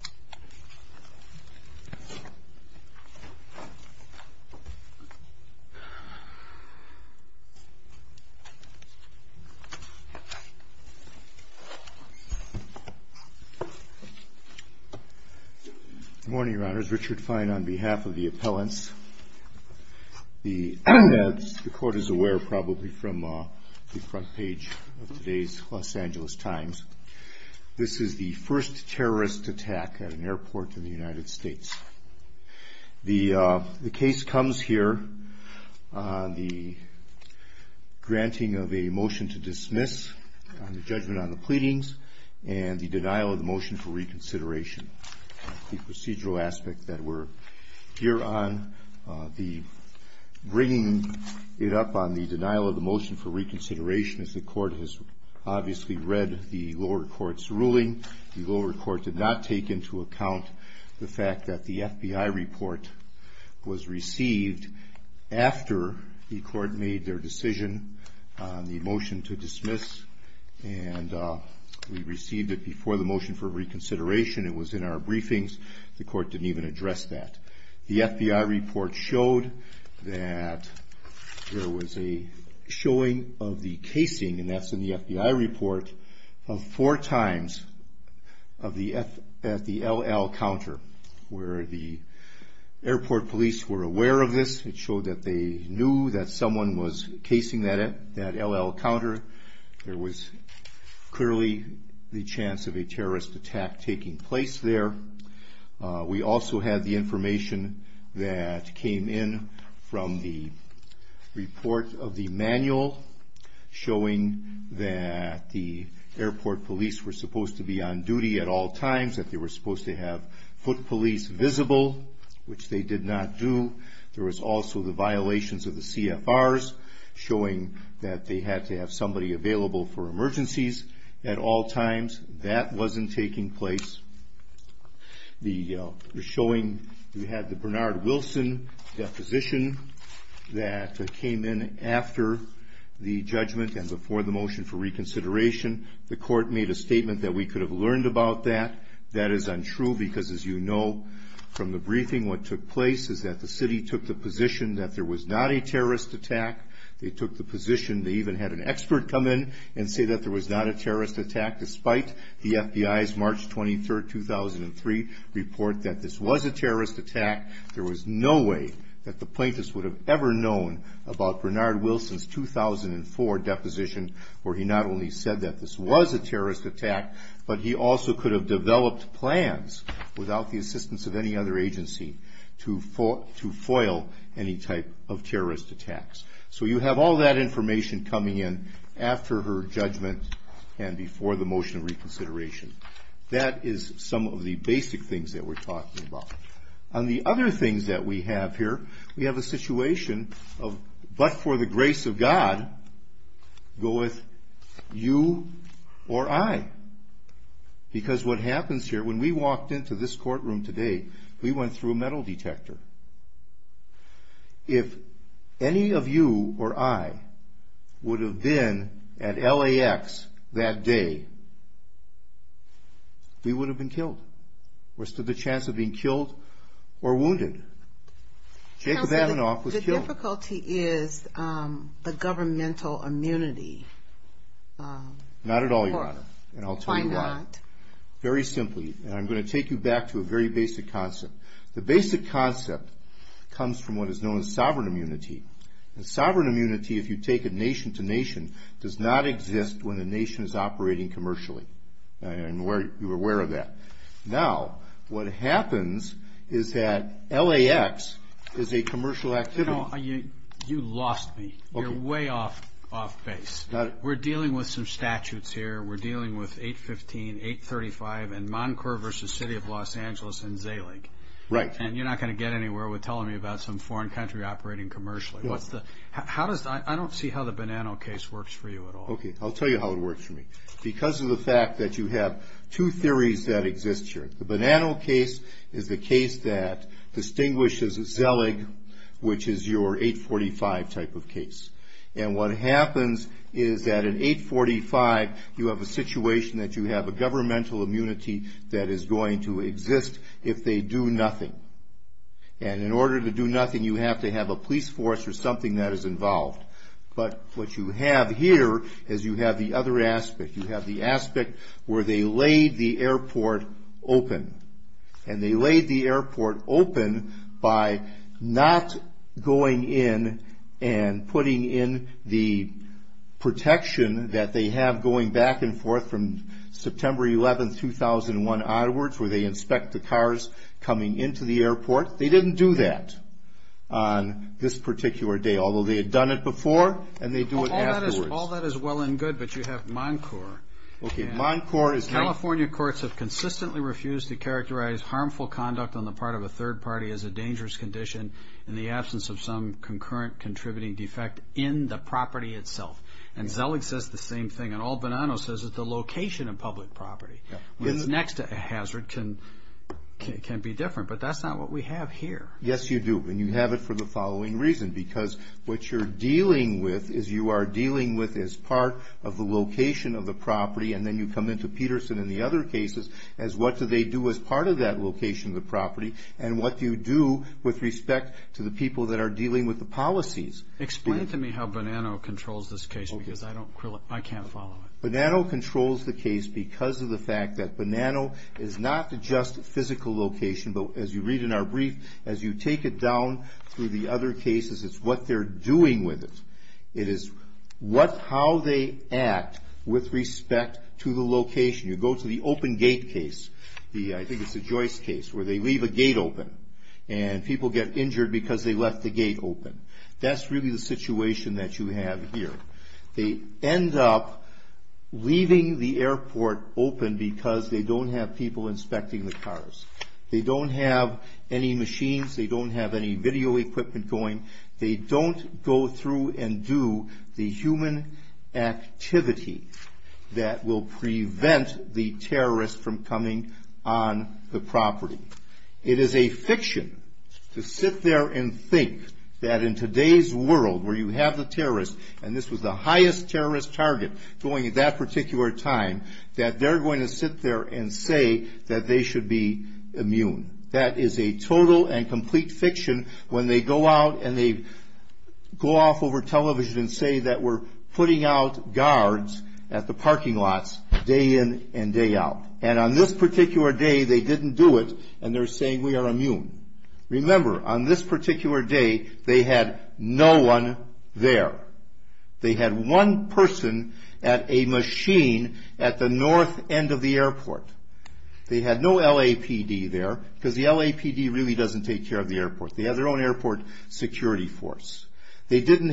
Good morning, Your Honors. Richard Fine on behalf of the appellants. The Court is aware probably from the front page of today's Los Angeles Times. This is the first terrorist attack at an airport in the United States. The case comes here on the granting of a motion to dismiss on the judgment on the pleadings and the denial of the motion for reconsideration. The procedural aspect that we're here on, bringing it up on the denial of the motion for reconsideration as the Court has obviously read the lower court's ruling. The lower court did not take into account the fact that the FBI report was received after the Court made their decision on the motion to dismiss. And we received it before the motion for reconsideration. It was in our briefings. The Court didn't even address that. The FBI report showed that there was a showing of the casing, and that's in the FBI report, of four times at the L.L. counter, where the airport police were aware of this. It showed that they knew that someone was casing that L.L. counter. There was clearly the chance of a terrorist attack taking place there. We also had the information that came in from the report of the manual showing that the airport police were supposed to be on duty at all times, that they were supposed to have foot police visible, which they did not do. There was also the violations of the CFRs showing that they had to have somebody available for emergencies at all times. That wasn't taking place. The showing, we had the Bernard Wilson deposition that came in after the judgment and before the motion for reconsideration. The Court made a statement that we could have learned about that. That is what took place is that the city took the position that there was not a terrorist attack. They took the position, they even had an expert come in and say that there was not a terrorist attack, despite the FBI's March 23rd, 2003 report that this was a terrorist attack. There was no way that the plaintiffs would have ever known about Bernard Wilson's 2004 deposition where he not only said that this was a terrorist attack, but he also could have developed plans without the agency to foil any type of terrorist attacks. So you have all that information coming in after her judgment and before the motion of reconsideration. That is some of the basic things that we're talking about. On the other things that we have here, we have a situation of, but for the grace of God, go with you or I. Because what happens here, when we walked into this courtroom today, we went through a metal detector. If any of you or I would have been at LAX that day, we would have been killed. We're stood the chance of being killed or wounded. Jacob Avanof was killed. The difficulty is the governmental immunity. Not at all, Your Honor, and I'll tell you why. Why not? Very simply, and I'm going to take you back to a very basic concept. The basic concept comes from what is known as sovereign immunity. Sovereign immunity, if you take it nation to nation, does not exist when the nation is operating commercially, and you're aware of that. Now, what happens is that LAX is a commercial activity. No, you lost me. You're way off base. We're dealing with some statutes here. We're dealing with 815, 835, and Moncourt v. City of Los Angeles and Zellig, and you're not going to get anywhere with telling me about some foreign country operating commercially. I don't see how the Bonanno case works for you at all. Okay, I'll tell you how it works for me. Because of the fact that you have two theories that exist here. The Bonanno case is the case that distinguishes Zellig, which is your 845 type of case, and what you have a governmental immunity that is going to exist if they do nothing. And in order to do nothing, you have to have a police force or something that is involved. But what you have here is you have the other aspect. You have the aspect where they laid the airport open. And they laid the airport open by not going in and putting in the protection that they have going back and forth from September 11, 2001 onwards, where they inspect the cars coming into the airport. They didn't do that on this particular day, although they had done it before, and they do it afterwards. All that is well and good, but you have Moncourt. Okay, Moncourt is... California courts have consistently refused to characterize harmful conduct on the part of a third party as a dangerous condition in the absence of some concurrent contributing defect in the property itself. And Zellig says the same thing, and all Bonanno says is the location of public property. What's next to a hazard can be different, but that's not what we have here. Yes, you do. And you have it for the following reason, because what you're dealing with is you are dealing with as part of the location of the property, and then you come into Peterson and the other cases as what do they do as part of that location of the property, and what do you do with respect to the people that are dealing with the policies. Explain to me how Bonanno controls this case, because I can't follow it. Bonanno controls the case because of the fact that Bonanno is not just physical location, but as you read in our brief, as you take it down through the other cases, it's what they're doing with it. It is how they act with respect to the location. You go to the open gate case, I think it's the Joyce case, where they left the gate open. That's really the situation that you have here. They end up leaving the airport open because they don't have people inspecting the cars. They don't have any machines. They don't have any video equipment going. They don't go through and do the human activity that will prevent the terrorist from coming on the property. It is a fiction to sit there and think that in today's world where you have the terrorist, and this was the highest terrorist target going at that particular time, that they're going to sit there and say that they should be immune. That is a total and complete fiction when they go out and they go off over television and say that we're putting out guards at the parking lots day in and day out. And on this particular day, they didn't do it and they're saying we are immune. Remember, on this particular day, they had no one there. They had one person at a machine at the north end of the airport. They had no LAPD there because the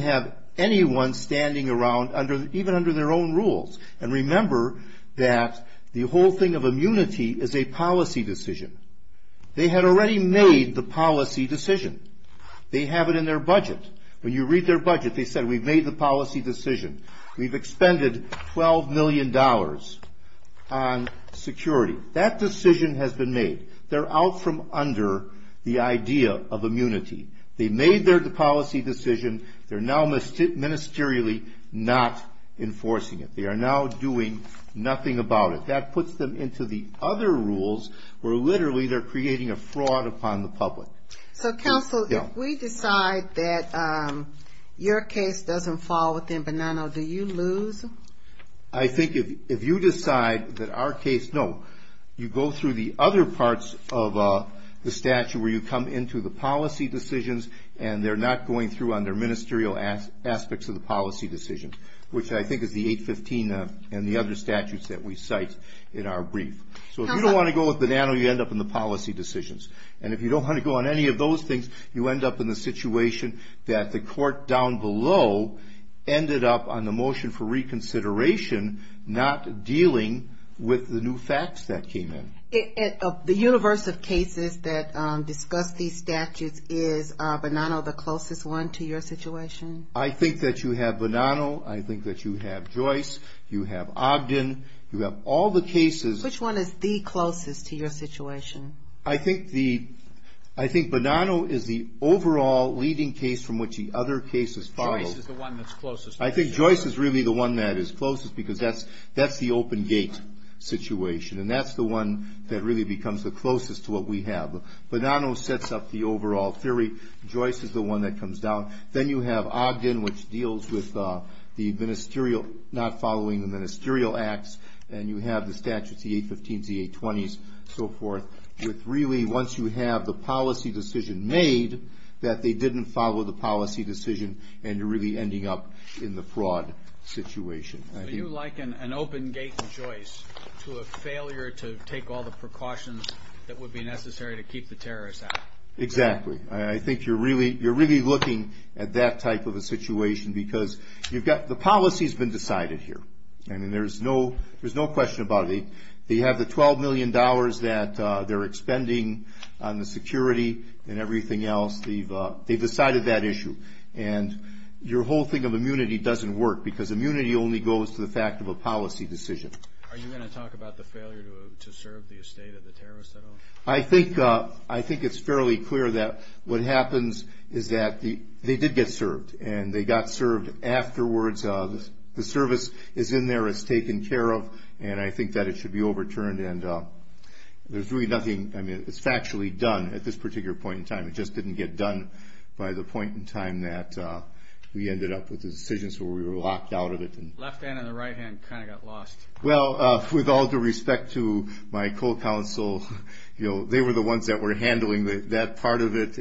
have anyone standing around even under their own rules. And remember that the whole thing of immunity is a policy decision. They had already made the policy decision. They have it in their budget. When you read their budget, they said we've made the policy decision. We've expended $12 million on security. That decision has been made. They're out from ministerially not enforcing it. They are now doing nothing about it. That puts them into the other rules where literally they're creating a fraud upon the public. So counsel, if we decide that your case doesn't fall within Bonanno, do you lose? I think if you decide that our case, no. You go through the other parts of the statute where you come into the policy decisions and they're not going through on their ministerial aspects of the policy decisions, which I think is the 815 and the other statutes that we cite in our brief. So if you don't want to go with Bonanno, you end up in the policy decisions. And if you don't want to go on any of those things, you end up in the situation that the court down below ended up on the motion for reconsideration, not dealing with the new facts that came in. The universe of cases that discuss these statutes, is Bonanno the closest one to your situation? I think that you have Bonanno. I think that you have Joyce. You have Ogden. You have all the cases. Which one is the closest to your situation? I think Bonanno is the overall leading case from which the other cases follow. Joyce is the one that's closest. Because that's the open gate situation. And that's the one that really becomes the closest to what we have. Bonanno sets up the overall theory. Joyce is the one that comes down. Then you have Ogden, which deals with not following the ministerial acts. And you have the statutes, the 815s, the 820s, so forth. With really, once you have the policy decision made, that they didn't follow the policy decision, and you're really ending up in the fraud situation. So you liken an open gate Joyce to a failure to take all the precautions that would be necessary to keep the terrorists out. Exactly. I think you're really looking at that type of a situation because the policy's been decided here. There's no question about it. They have the $12 million that they're expending on the security and everything else. They've decided that issue. And your whole thing of immunity doesn't work because immunity only goes to the fact of a policy decision. Are you going to talk about the failure to serve the estate of the terrorists at all? I think it's fairly clear that what happens is that they did get served. And they got served afterwards. The service is in there. It's taken care of. And I think that it should be overturned. And there's really nothing. I mean, it's factually done at this particular point in time. It just didn't get done by the point in time that we ended up with the decisions where we were locked out of it. Left hand and the right hand kind of got lost. Well, with all due respect to my co-counsel, they were the ones that were handling that part of it.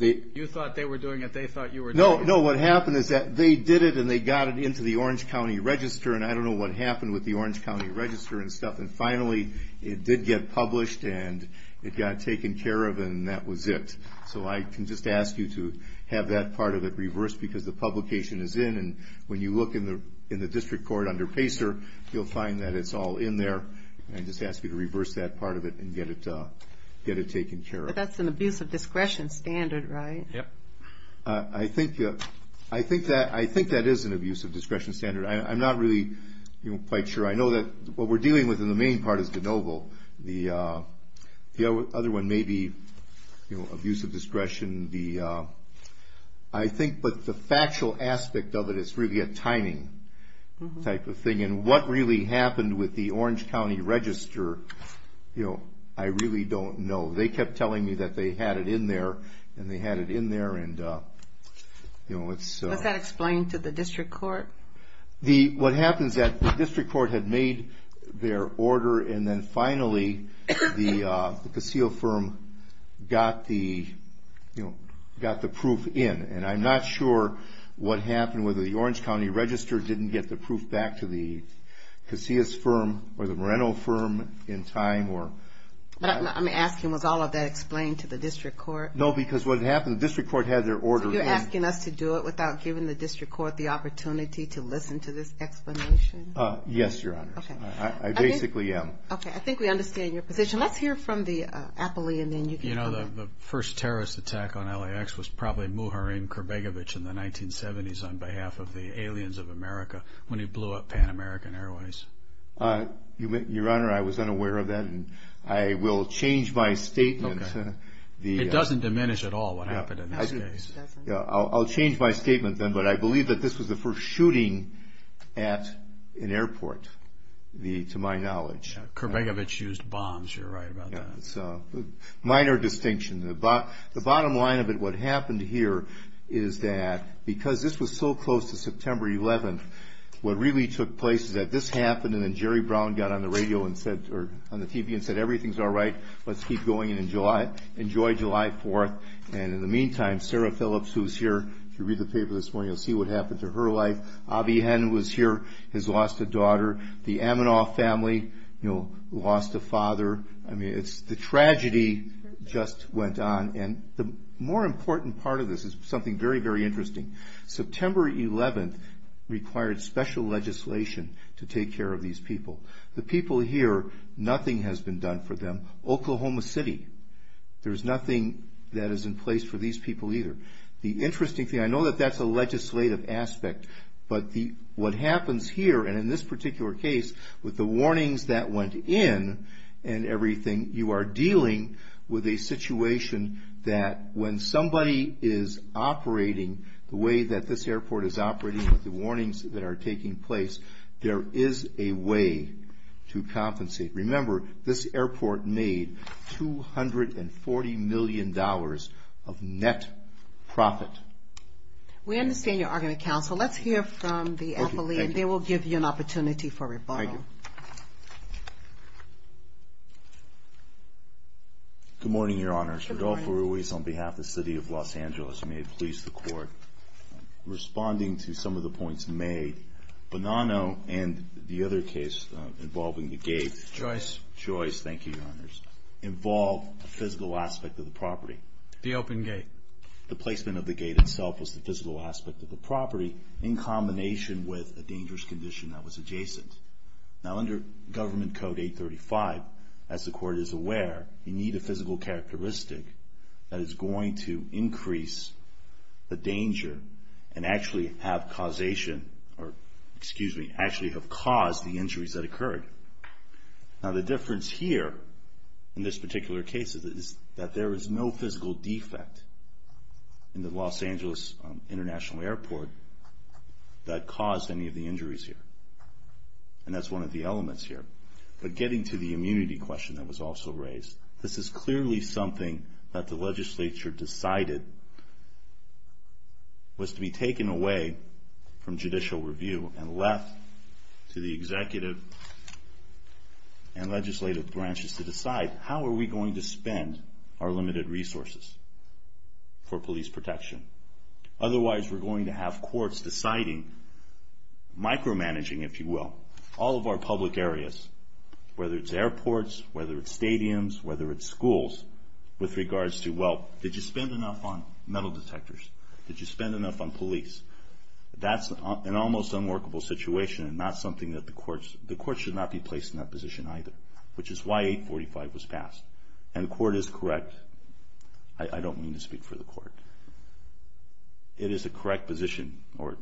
You thought they were doing it. They thought you were doing it. No, no. What happened is that they did it and they got it into the Orange County Register. And I don't know what happened with the Orange County Register and stuff. And finally, it did get published and it got taken care of and that was it. So I can just ask you to have that part of it reversed because the publication is in. And when you look in the district court under PACER, you'll find that it's all in there. I just ask you to reverse that part of it and get it taken care of. But that's an abuse of discretion standard, right? I think that is an abuse of discretion standard. I'm not really quite sure. I know that what we're dealing with in the main part is de novo. The other one may be abuse of discretion. I think the factual aspect of it is really a timing type of thing. And what really happened with the Orange County Register, I really don't know. They kept telling me that they had it in there and they had it in there. Was that explained to the district court? What happens is that the district court had made their order and then finally the Casio firm got the proof in. And I'm not sure what happened with the Orange County Register. Didn't get the proof back to the Casio firm or the Moreno firm in time. I'm asking was all of that explained to the district court? No, because what happened, the district court had their order. So you're asking us to do it without giving the district court the opportunity to listen to this explanation? Yes, Your Honor. I basically am. Okay, I think we understand your position. Let's hear from the appellee and then you can comment. You know, the first terrorist attack on LAX was probably Muharrem Kurbegovich in the 1970s on behalf of the Aliens of America when he blew up Pan American Airways. Your Honor, I was unaware of that and I will change my statement. It doesn't diminish at all what happened in this case. I'll change my statement then, but I believe that this was the first shooting at an airport to my knowledge. Kurbegovich used bombs, you're right about that. Minor distinction. The bottom line of it, what happened here is that because this was so close to September 11th, what really took place is that this happened and then Jerry Brown got on the radio and said, or on the TV and said, everything's all right, let's keep going and enjoy July 4th. And in the meantime, Sarah Phillips, who's here, if you read the paper this morning, you'll see what happened to her life. Avi Henn was here, has lost a daughter. The Amanoff family, you know, lost a father. I mean, it's the tragedy just went on. And the more important part of this is something very, very interesting. September 11th required special legislation to take care of these people. The people here, nothing has been done for them. Oklahoma City, there's nothing that is in place for these people either. The interesting thing, I know that that's a legislative aspect, but what happens here, and in this particular case, with the warnings that went in and everything, you are dealing with a situation that when somebody is operating, the way that this airport is operating with the warnings that are taking place, there is a way to compensate. Remember, this airport made $240 million of net profit. We understand you are going to counsel. Let's hear from the appellee, and they will give you an opportunity for rebuttal. Thank you. Good morning, Your Honors. Mr. Rodolfo Ruiz, on behalf of the City of Los Angeles, may it please the Court, responding to some of the points made, Bonanno and the other case involving the gate, Joyce, thank you, Your Honors, involved a physical aspect of the property. The open gate. The placement of the gate itself was the physical aspect of the property in combination with a dangerous condition that was adjacent. Now, under Government Code 835, as the Court is aware, you need a physical characteristic that is going to increase the danger and actually have causation, or excuse me, actually have caused the injuries that occurred. Now, the difference here, in this particular case, is that there is no physical defect in the Los Angeles International Airport that caused any of the injuries here. And that's one of the elements here. But getting to the immunity question that was also raised, this is clearly something that the legislature decided was to be taken away from judicial review and left to the executive and legislative branches to decide, how are we going to spend our limited resources for police protection? Otherwise, we're going to have courts deciding, micromanaging, if you will, all of our public areas, whether it's airports, whether it's stadiums, whether it's schools, with regards to, well, did you spend enough on metal detectors? Did you spend enough on police? That's an almost unworkable situation and not something that the courts, the courts should not be placed in that position either. Which is why 845 was passed. And the Court is correct, I don't mean to speak for the Court. It is a correct position, or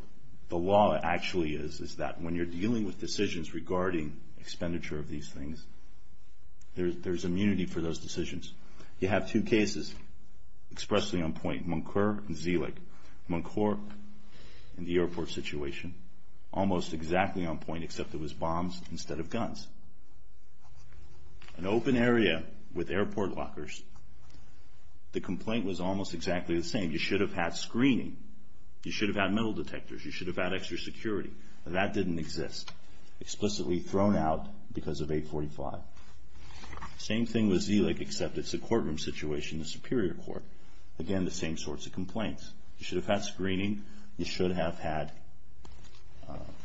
the law actually is, is that when you're dealing with decisions regarding expenditure of these things, there's immunity for those decisions. You have two cases expressly on point, Munker and Zelig. Munker, in the airport situation, almost exactly on point, except it was bombs instead of guns. An open area with airport lockers, the complaint was almost exactly the same. You should have had screening, you should have had metal detectors, you should have had extra security. That didn't exist. Explicitly thrown out because of 845. Same thing with Zelig, except it's a courtroom situation, the Superior Court. Again, the same sorts of complaints. You should have had screening, you should have had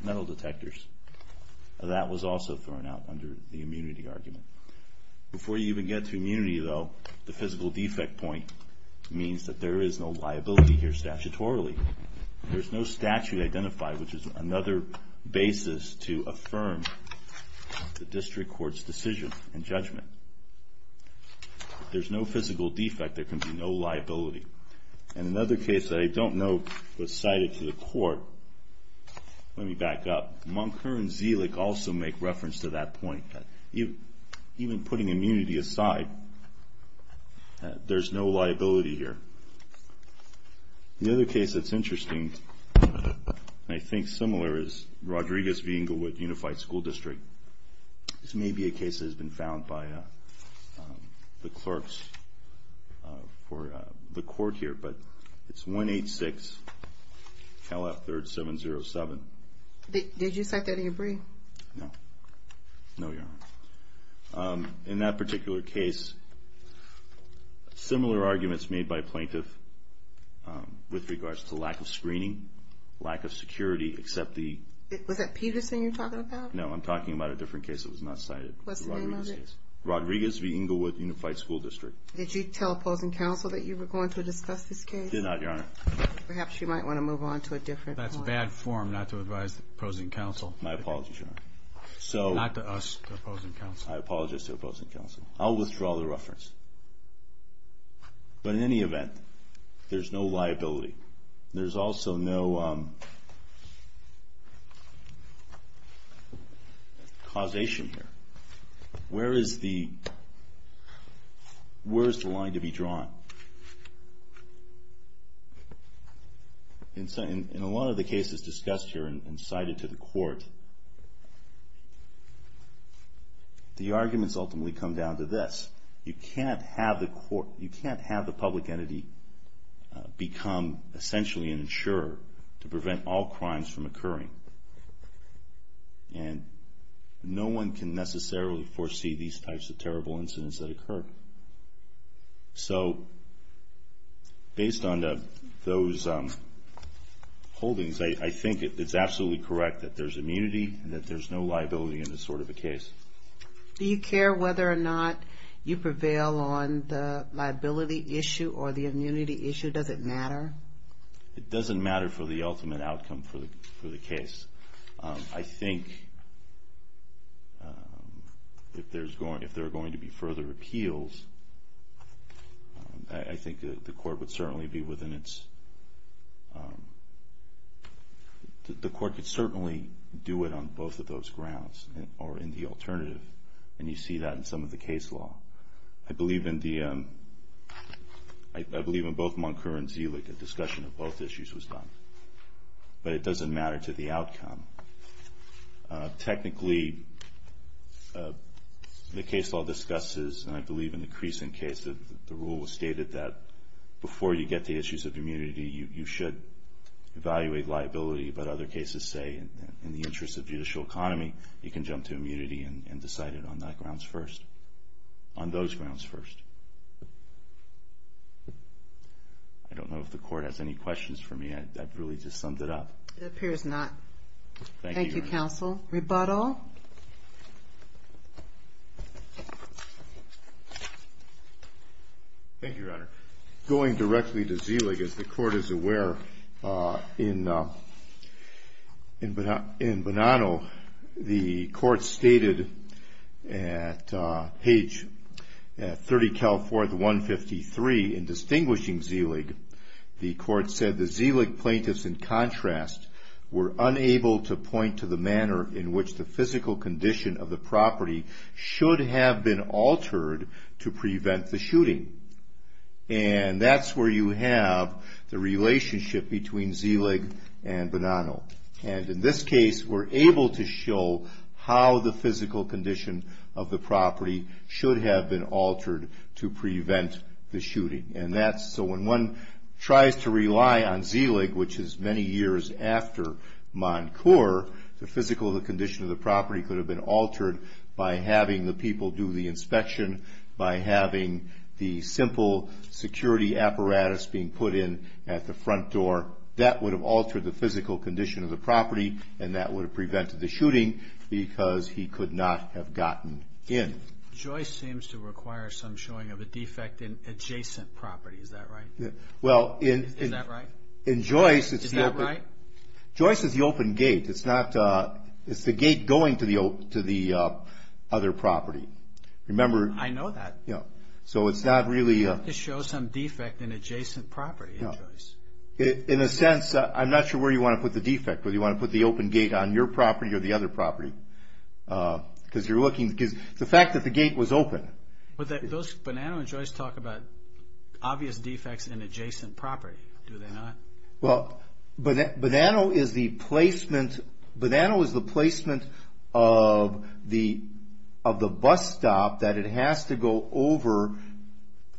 metal detectors. That was also thrown out under the immunity argument. Before you even get to immunity, though, the physical defect point means that there is no liability here statutorily. There's no statute identified, which is another basis to affirm the District Court's decision and judgment. There's no physical defect, there can be no liability. And another case that I don't know was cited to the Court, let me back up. Munker and Zelig also make reference to that point. Even putting immunity aside, there's no liability here. The other case that's interesting, and I think similar, is Rodriguez v. Englewood Unified School District. This may be a case that has been found by the clerks for the Court here, but it's 186 Cal F 3rd 707. Did you cite that in your brief? No. No, Your Honor. In that particular case, similar arguments made by a plaintiff with regards to lack of screening, lack of security, except the... Was that Peterson you're talking about? No, I'm talking about a different case that was not cited. What's the name of it? Rodriguez v. Englewood Unified School District. Did you tell opposing counsel that you were going to discuss this case? Perhaps you might want to move on to a different point. That's bad form not to advise opposing counsel. My apologies, Your Honor. Not to us, to opposing counsel. I apologize to opposing counsel. I'll withdraw the reference. But in any event, there's no liability. There's also no causation here. Where is the line to be drawn? In a lot of the cases discussed here and cited to the Court, the arguments ultimately come down to this. You can't have the public entity become essentially an insurer to prevent all crimes from occurring. And no one can necessarily foresee these types of terrible incidents that occur. So based on those holdings, I think it's absolutely correct that there's immunity and that there's no liability in this sort of a case. Do you care whether or not you prevail on the liability issue or the immunity issue? Does it matter? It doesn't matter for the ultimate outcome for the case. I think if there are going to be further appeals, I think the Court would certainly do it on both of those grounds or in the alternative. And you see that in some of the case law. I believe in both Munker and Zelich, a discussion of both issues was done. But it doesn't matter to the outcome. Technically, the case law discusses, and I believe in the Creason case, the rule stated that before you get to issues of immunity, you should evaluate liability. But other cases say in the interest of judicial economy, you can jump to immunity and decide it on that grounds first. On those grounds first. I don't know if the Court has any questions for me. I've really just summed it up. It appears not. Thank you, Your Honor. Thank you, Counsel. Rebuttal. Thank you, Your Honor. Going directly to Zelich. As the Court is aware, in Bonanno, the Court stated at page 30, California 153, in distinguishing Zelich, the Court said the Zelich plaintiffs, in contrast, were unable to point to the manner in which the physical condition of the property should have been altered to prevent the shooting. And that's where you have the relationship between Zelich and Bonanno. And in this case, we're able to show how the physical condition of the property should have been altered to prevent the shooting. So when one tries to rely on Zelich, which is many years after Moncourt, the physical condition of the property could have been altered by having the people do the inspection, by having the simple security apparatus being put in at the front door. That would have altered the physical condition of the property, and that would have prevented the shooting because he could not have gotten in. Joyce seems to require some showing of a defect in adjacent property. Is that right? Is that right? Is that right? Joyce is the open gate. It's the gate going to the other property. Remember... I know that. So it's not really... You have to show some defect in adjacent property in Joyce. In a sense, I'm not sure where you want to put the defect, whether you want to put the open gate on your property or the other property. Because you're looking... The fact that the gate was open... But Bonanno and Joyce talk about obvious defects in adjacent property, do they not? Well, Bonanno is the placement of the bus stop that it has to go over.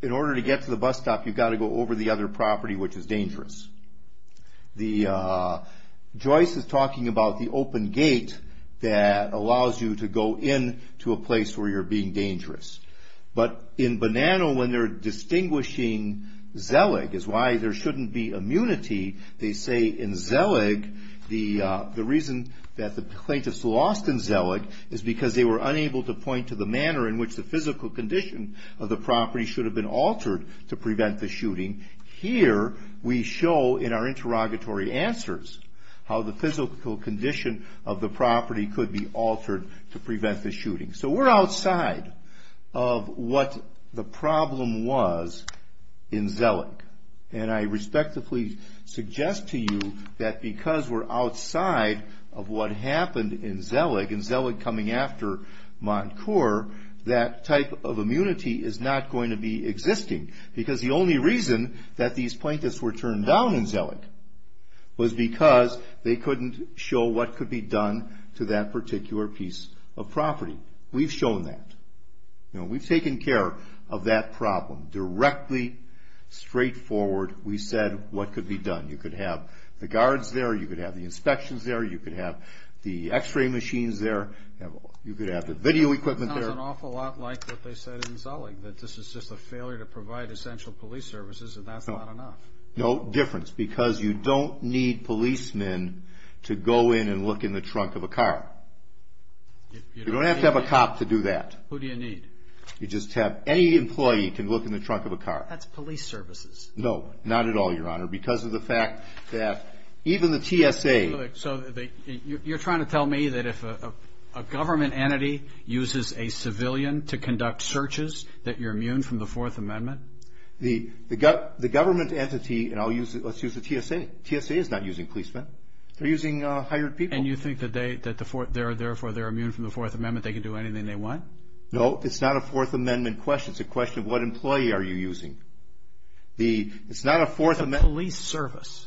In order to get to the bus stop, you've got to go over the other property, which is dangerous. Joyce is talking about the open gate that allows you to go in to a place where you're being dangerous. But in Bonanno, when they're distinguishing Zellig, is why there shouldn't be immunity, they say in Zellig, the reason that the plaintiffs lost in Zellig is because they were unable to point to the manner in which the physical condition of the property should have been altered to prevent the shooting. Here, we show in our interrogatory answers, how the physical condition of the property could be altered to prevent the shooting. So we're outside of what the problem was in Zellig. And I respectfully suggest to you that because we're outside of what happened in Zellig, in Zellig coming after Montcourt, that type of immunity is not going to be existing. Because the only reason that these plaintiffs were turned down in Zellig was because they couldn't show what could be done to that particular piece of property. We've shown that. We've taken care of that problem. Directly, straightforward, we said what could be done. You could have the guards there, you could have the inspections there, you could have the x-ray machines there, you could have the video equipment there. It sounds an awful lot like what they said in Zellig, that this is just a failure to provide essential police services and that's not enough. No difference, because you don't need policemen to go in and look in the trunk of a car. You don't have to have a cop to do that. Who do you need? You just have any employee to look in the trunk of a car. That's police services. No, not at all, Your Honor, because of the fact that even the TSA... So you're trying to tell me that if a government entity uses a civilian to conduct searches, that you're immune from the Fourth Amendment? The government entity, and let's use the TSA, TSA is not using policemen. They're using hired people. And you think that therefore they're immune from the Fourth Amendment, they can do anything they want? No, it's not a Fourth Amendment question. It's a question of what employee are you using. It's not a Fourth Amendment... It's a police service.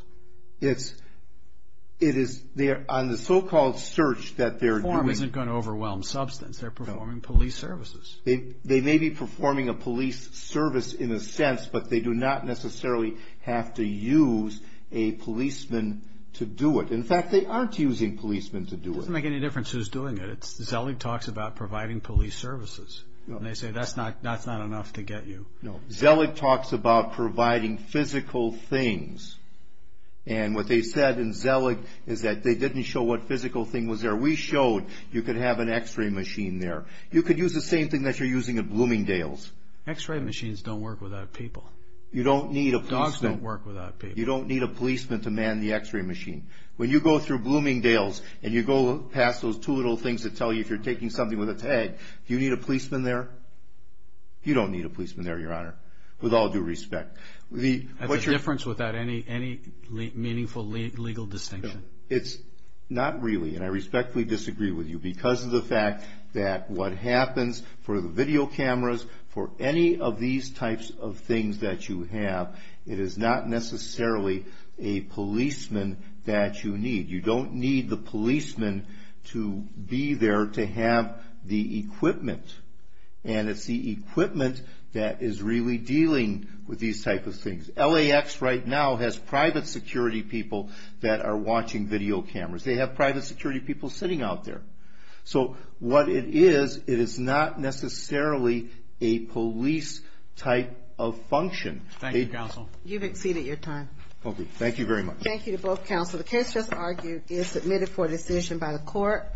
It is on the so-called search that they're doing... Perform isn't going to overwhelm substance. They're performing police services. They may be performing a police service in a sense, but they do not necessarily have to use a policeman to do it. In fact, they aren't using policemen to do it. It doesn't make any difference who's doing it. Zellig talks about providing police services, and they say that's not enough to get you. No, Zellig talks about providing physical things, and what they said in Zellig is that they didn't show what physical thing was there. We showed you could have an x-ray machine there. You could use the same thing that you're using at Bloomingdale's. X-ray machines don't work without people. Dogs don't work without people. You don't need a policeman to man the x-ray machine. When you go through Bloomingdale's and you go past those two little things that tell you if you're taking something with a tag, do you need a policeman there? You don't need a policeman there, Your Honor, with all due respect. That's a difference without any meaningful legal distinction. It's not really, and I respectfully disagree with you because of the fact that what happens for the video cameras, for any of these types of things that you have, it is not necessarily a policeman that you need. You don't need the policeman to be there to have the equipment, and it's the equipment that is really dealing with these types of things. LAX right now has private security people that are watching video cameras. They have private security people sitting out there. So what it is, it is not necessarily a police type of function. Thank you, counsel. You've exceeded your time. Thank you very much. Thank you to both counsel. The case just argued is submitted for decision by the court.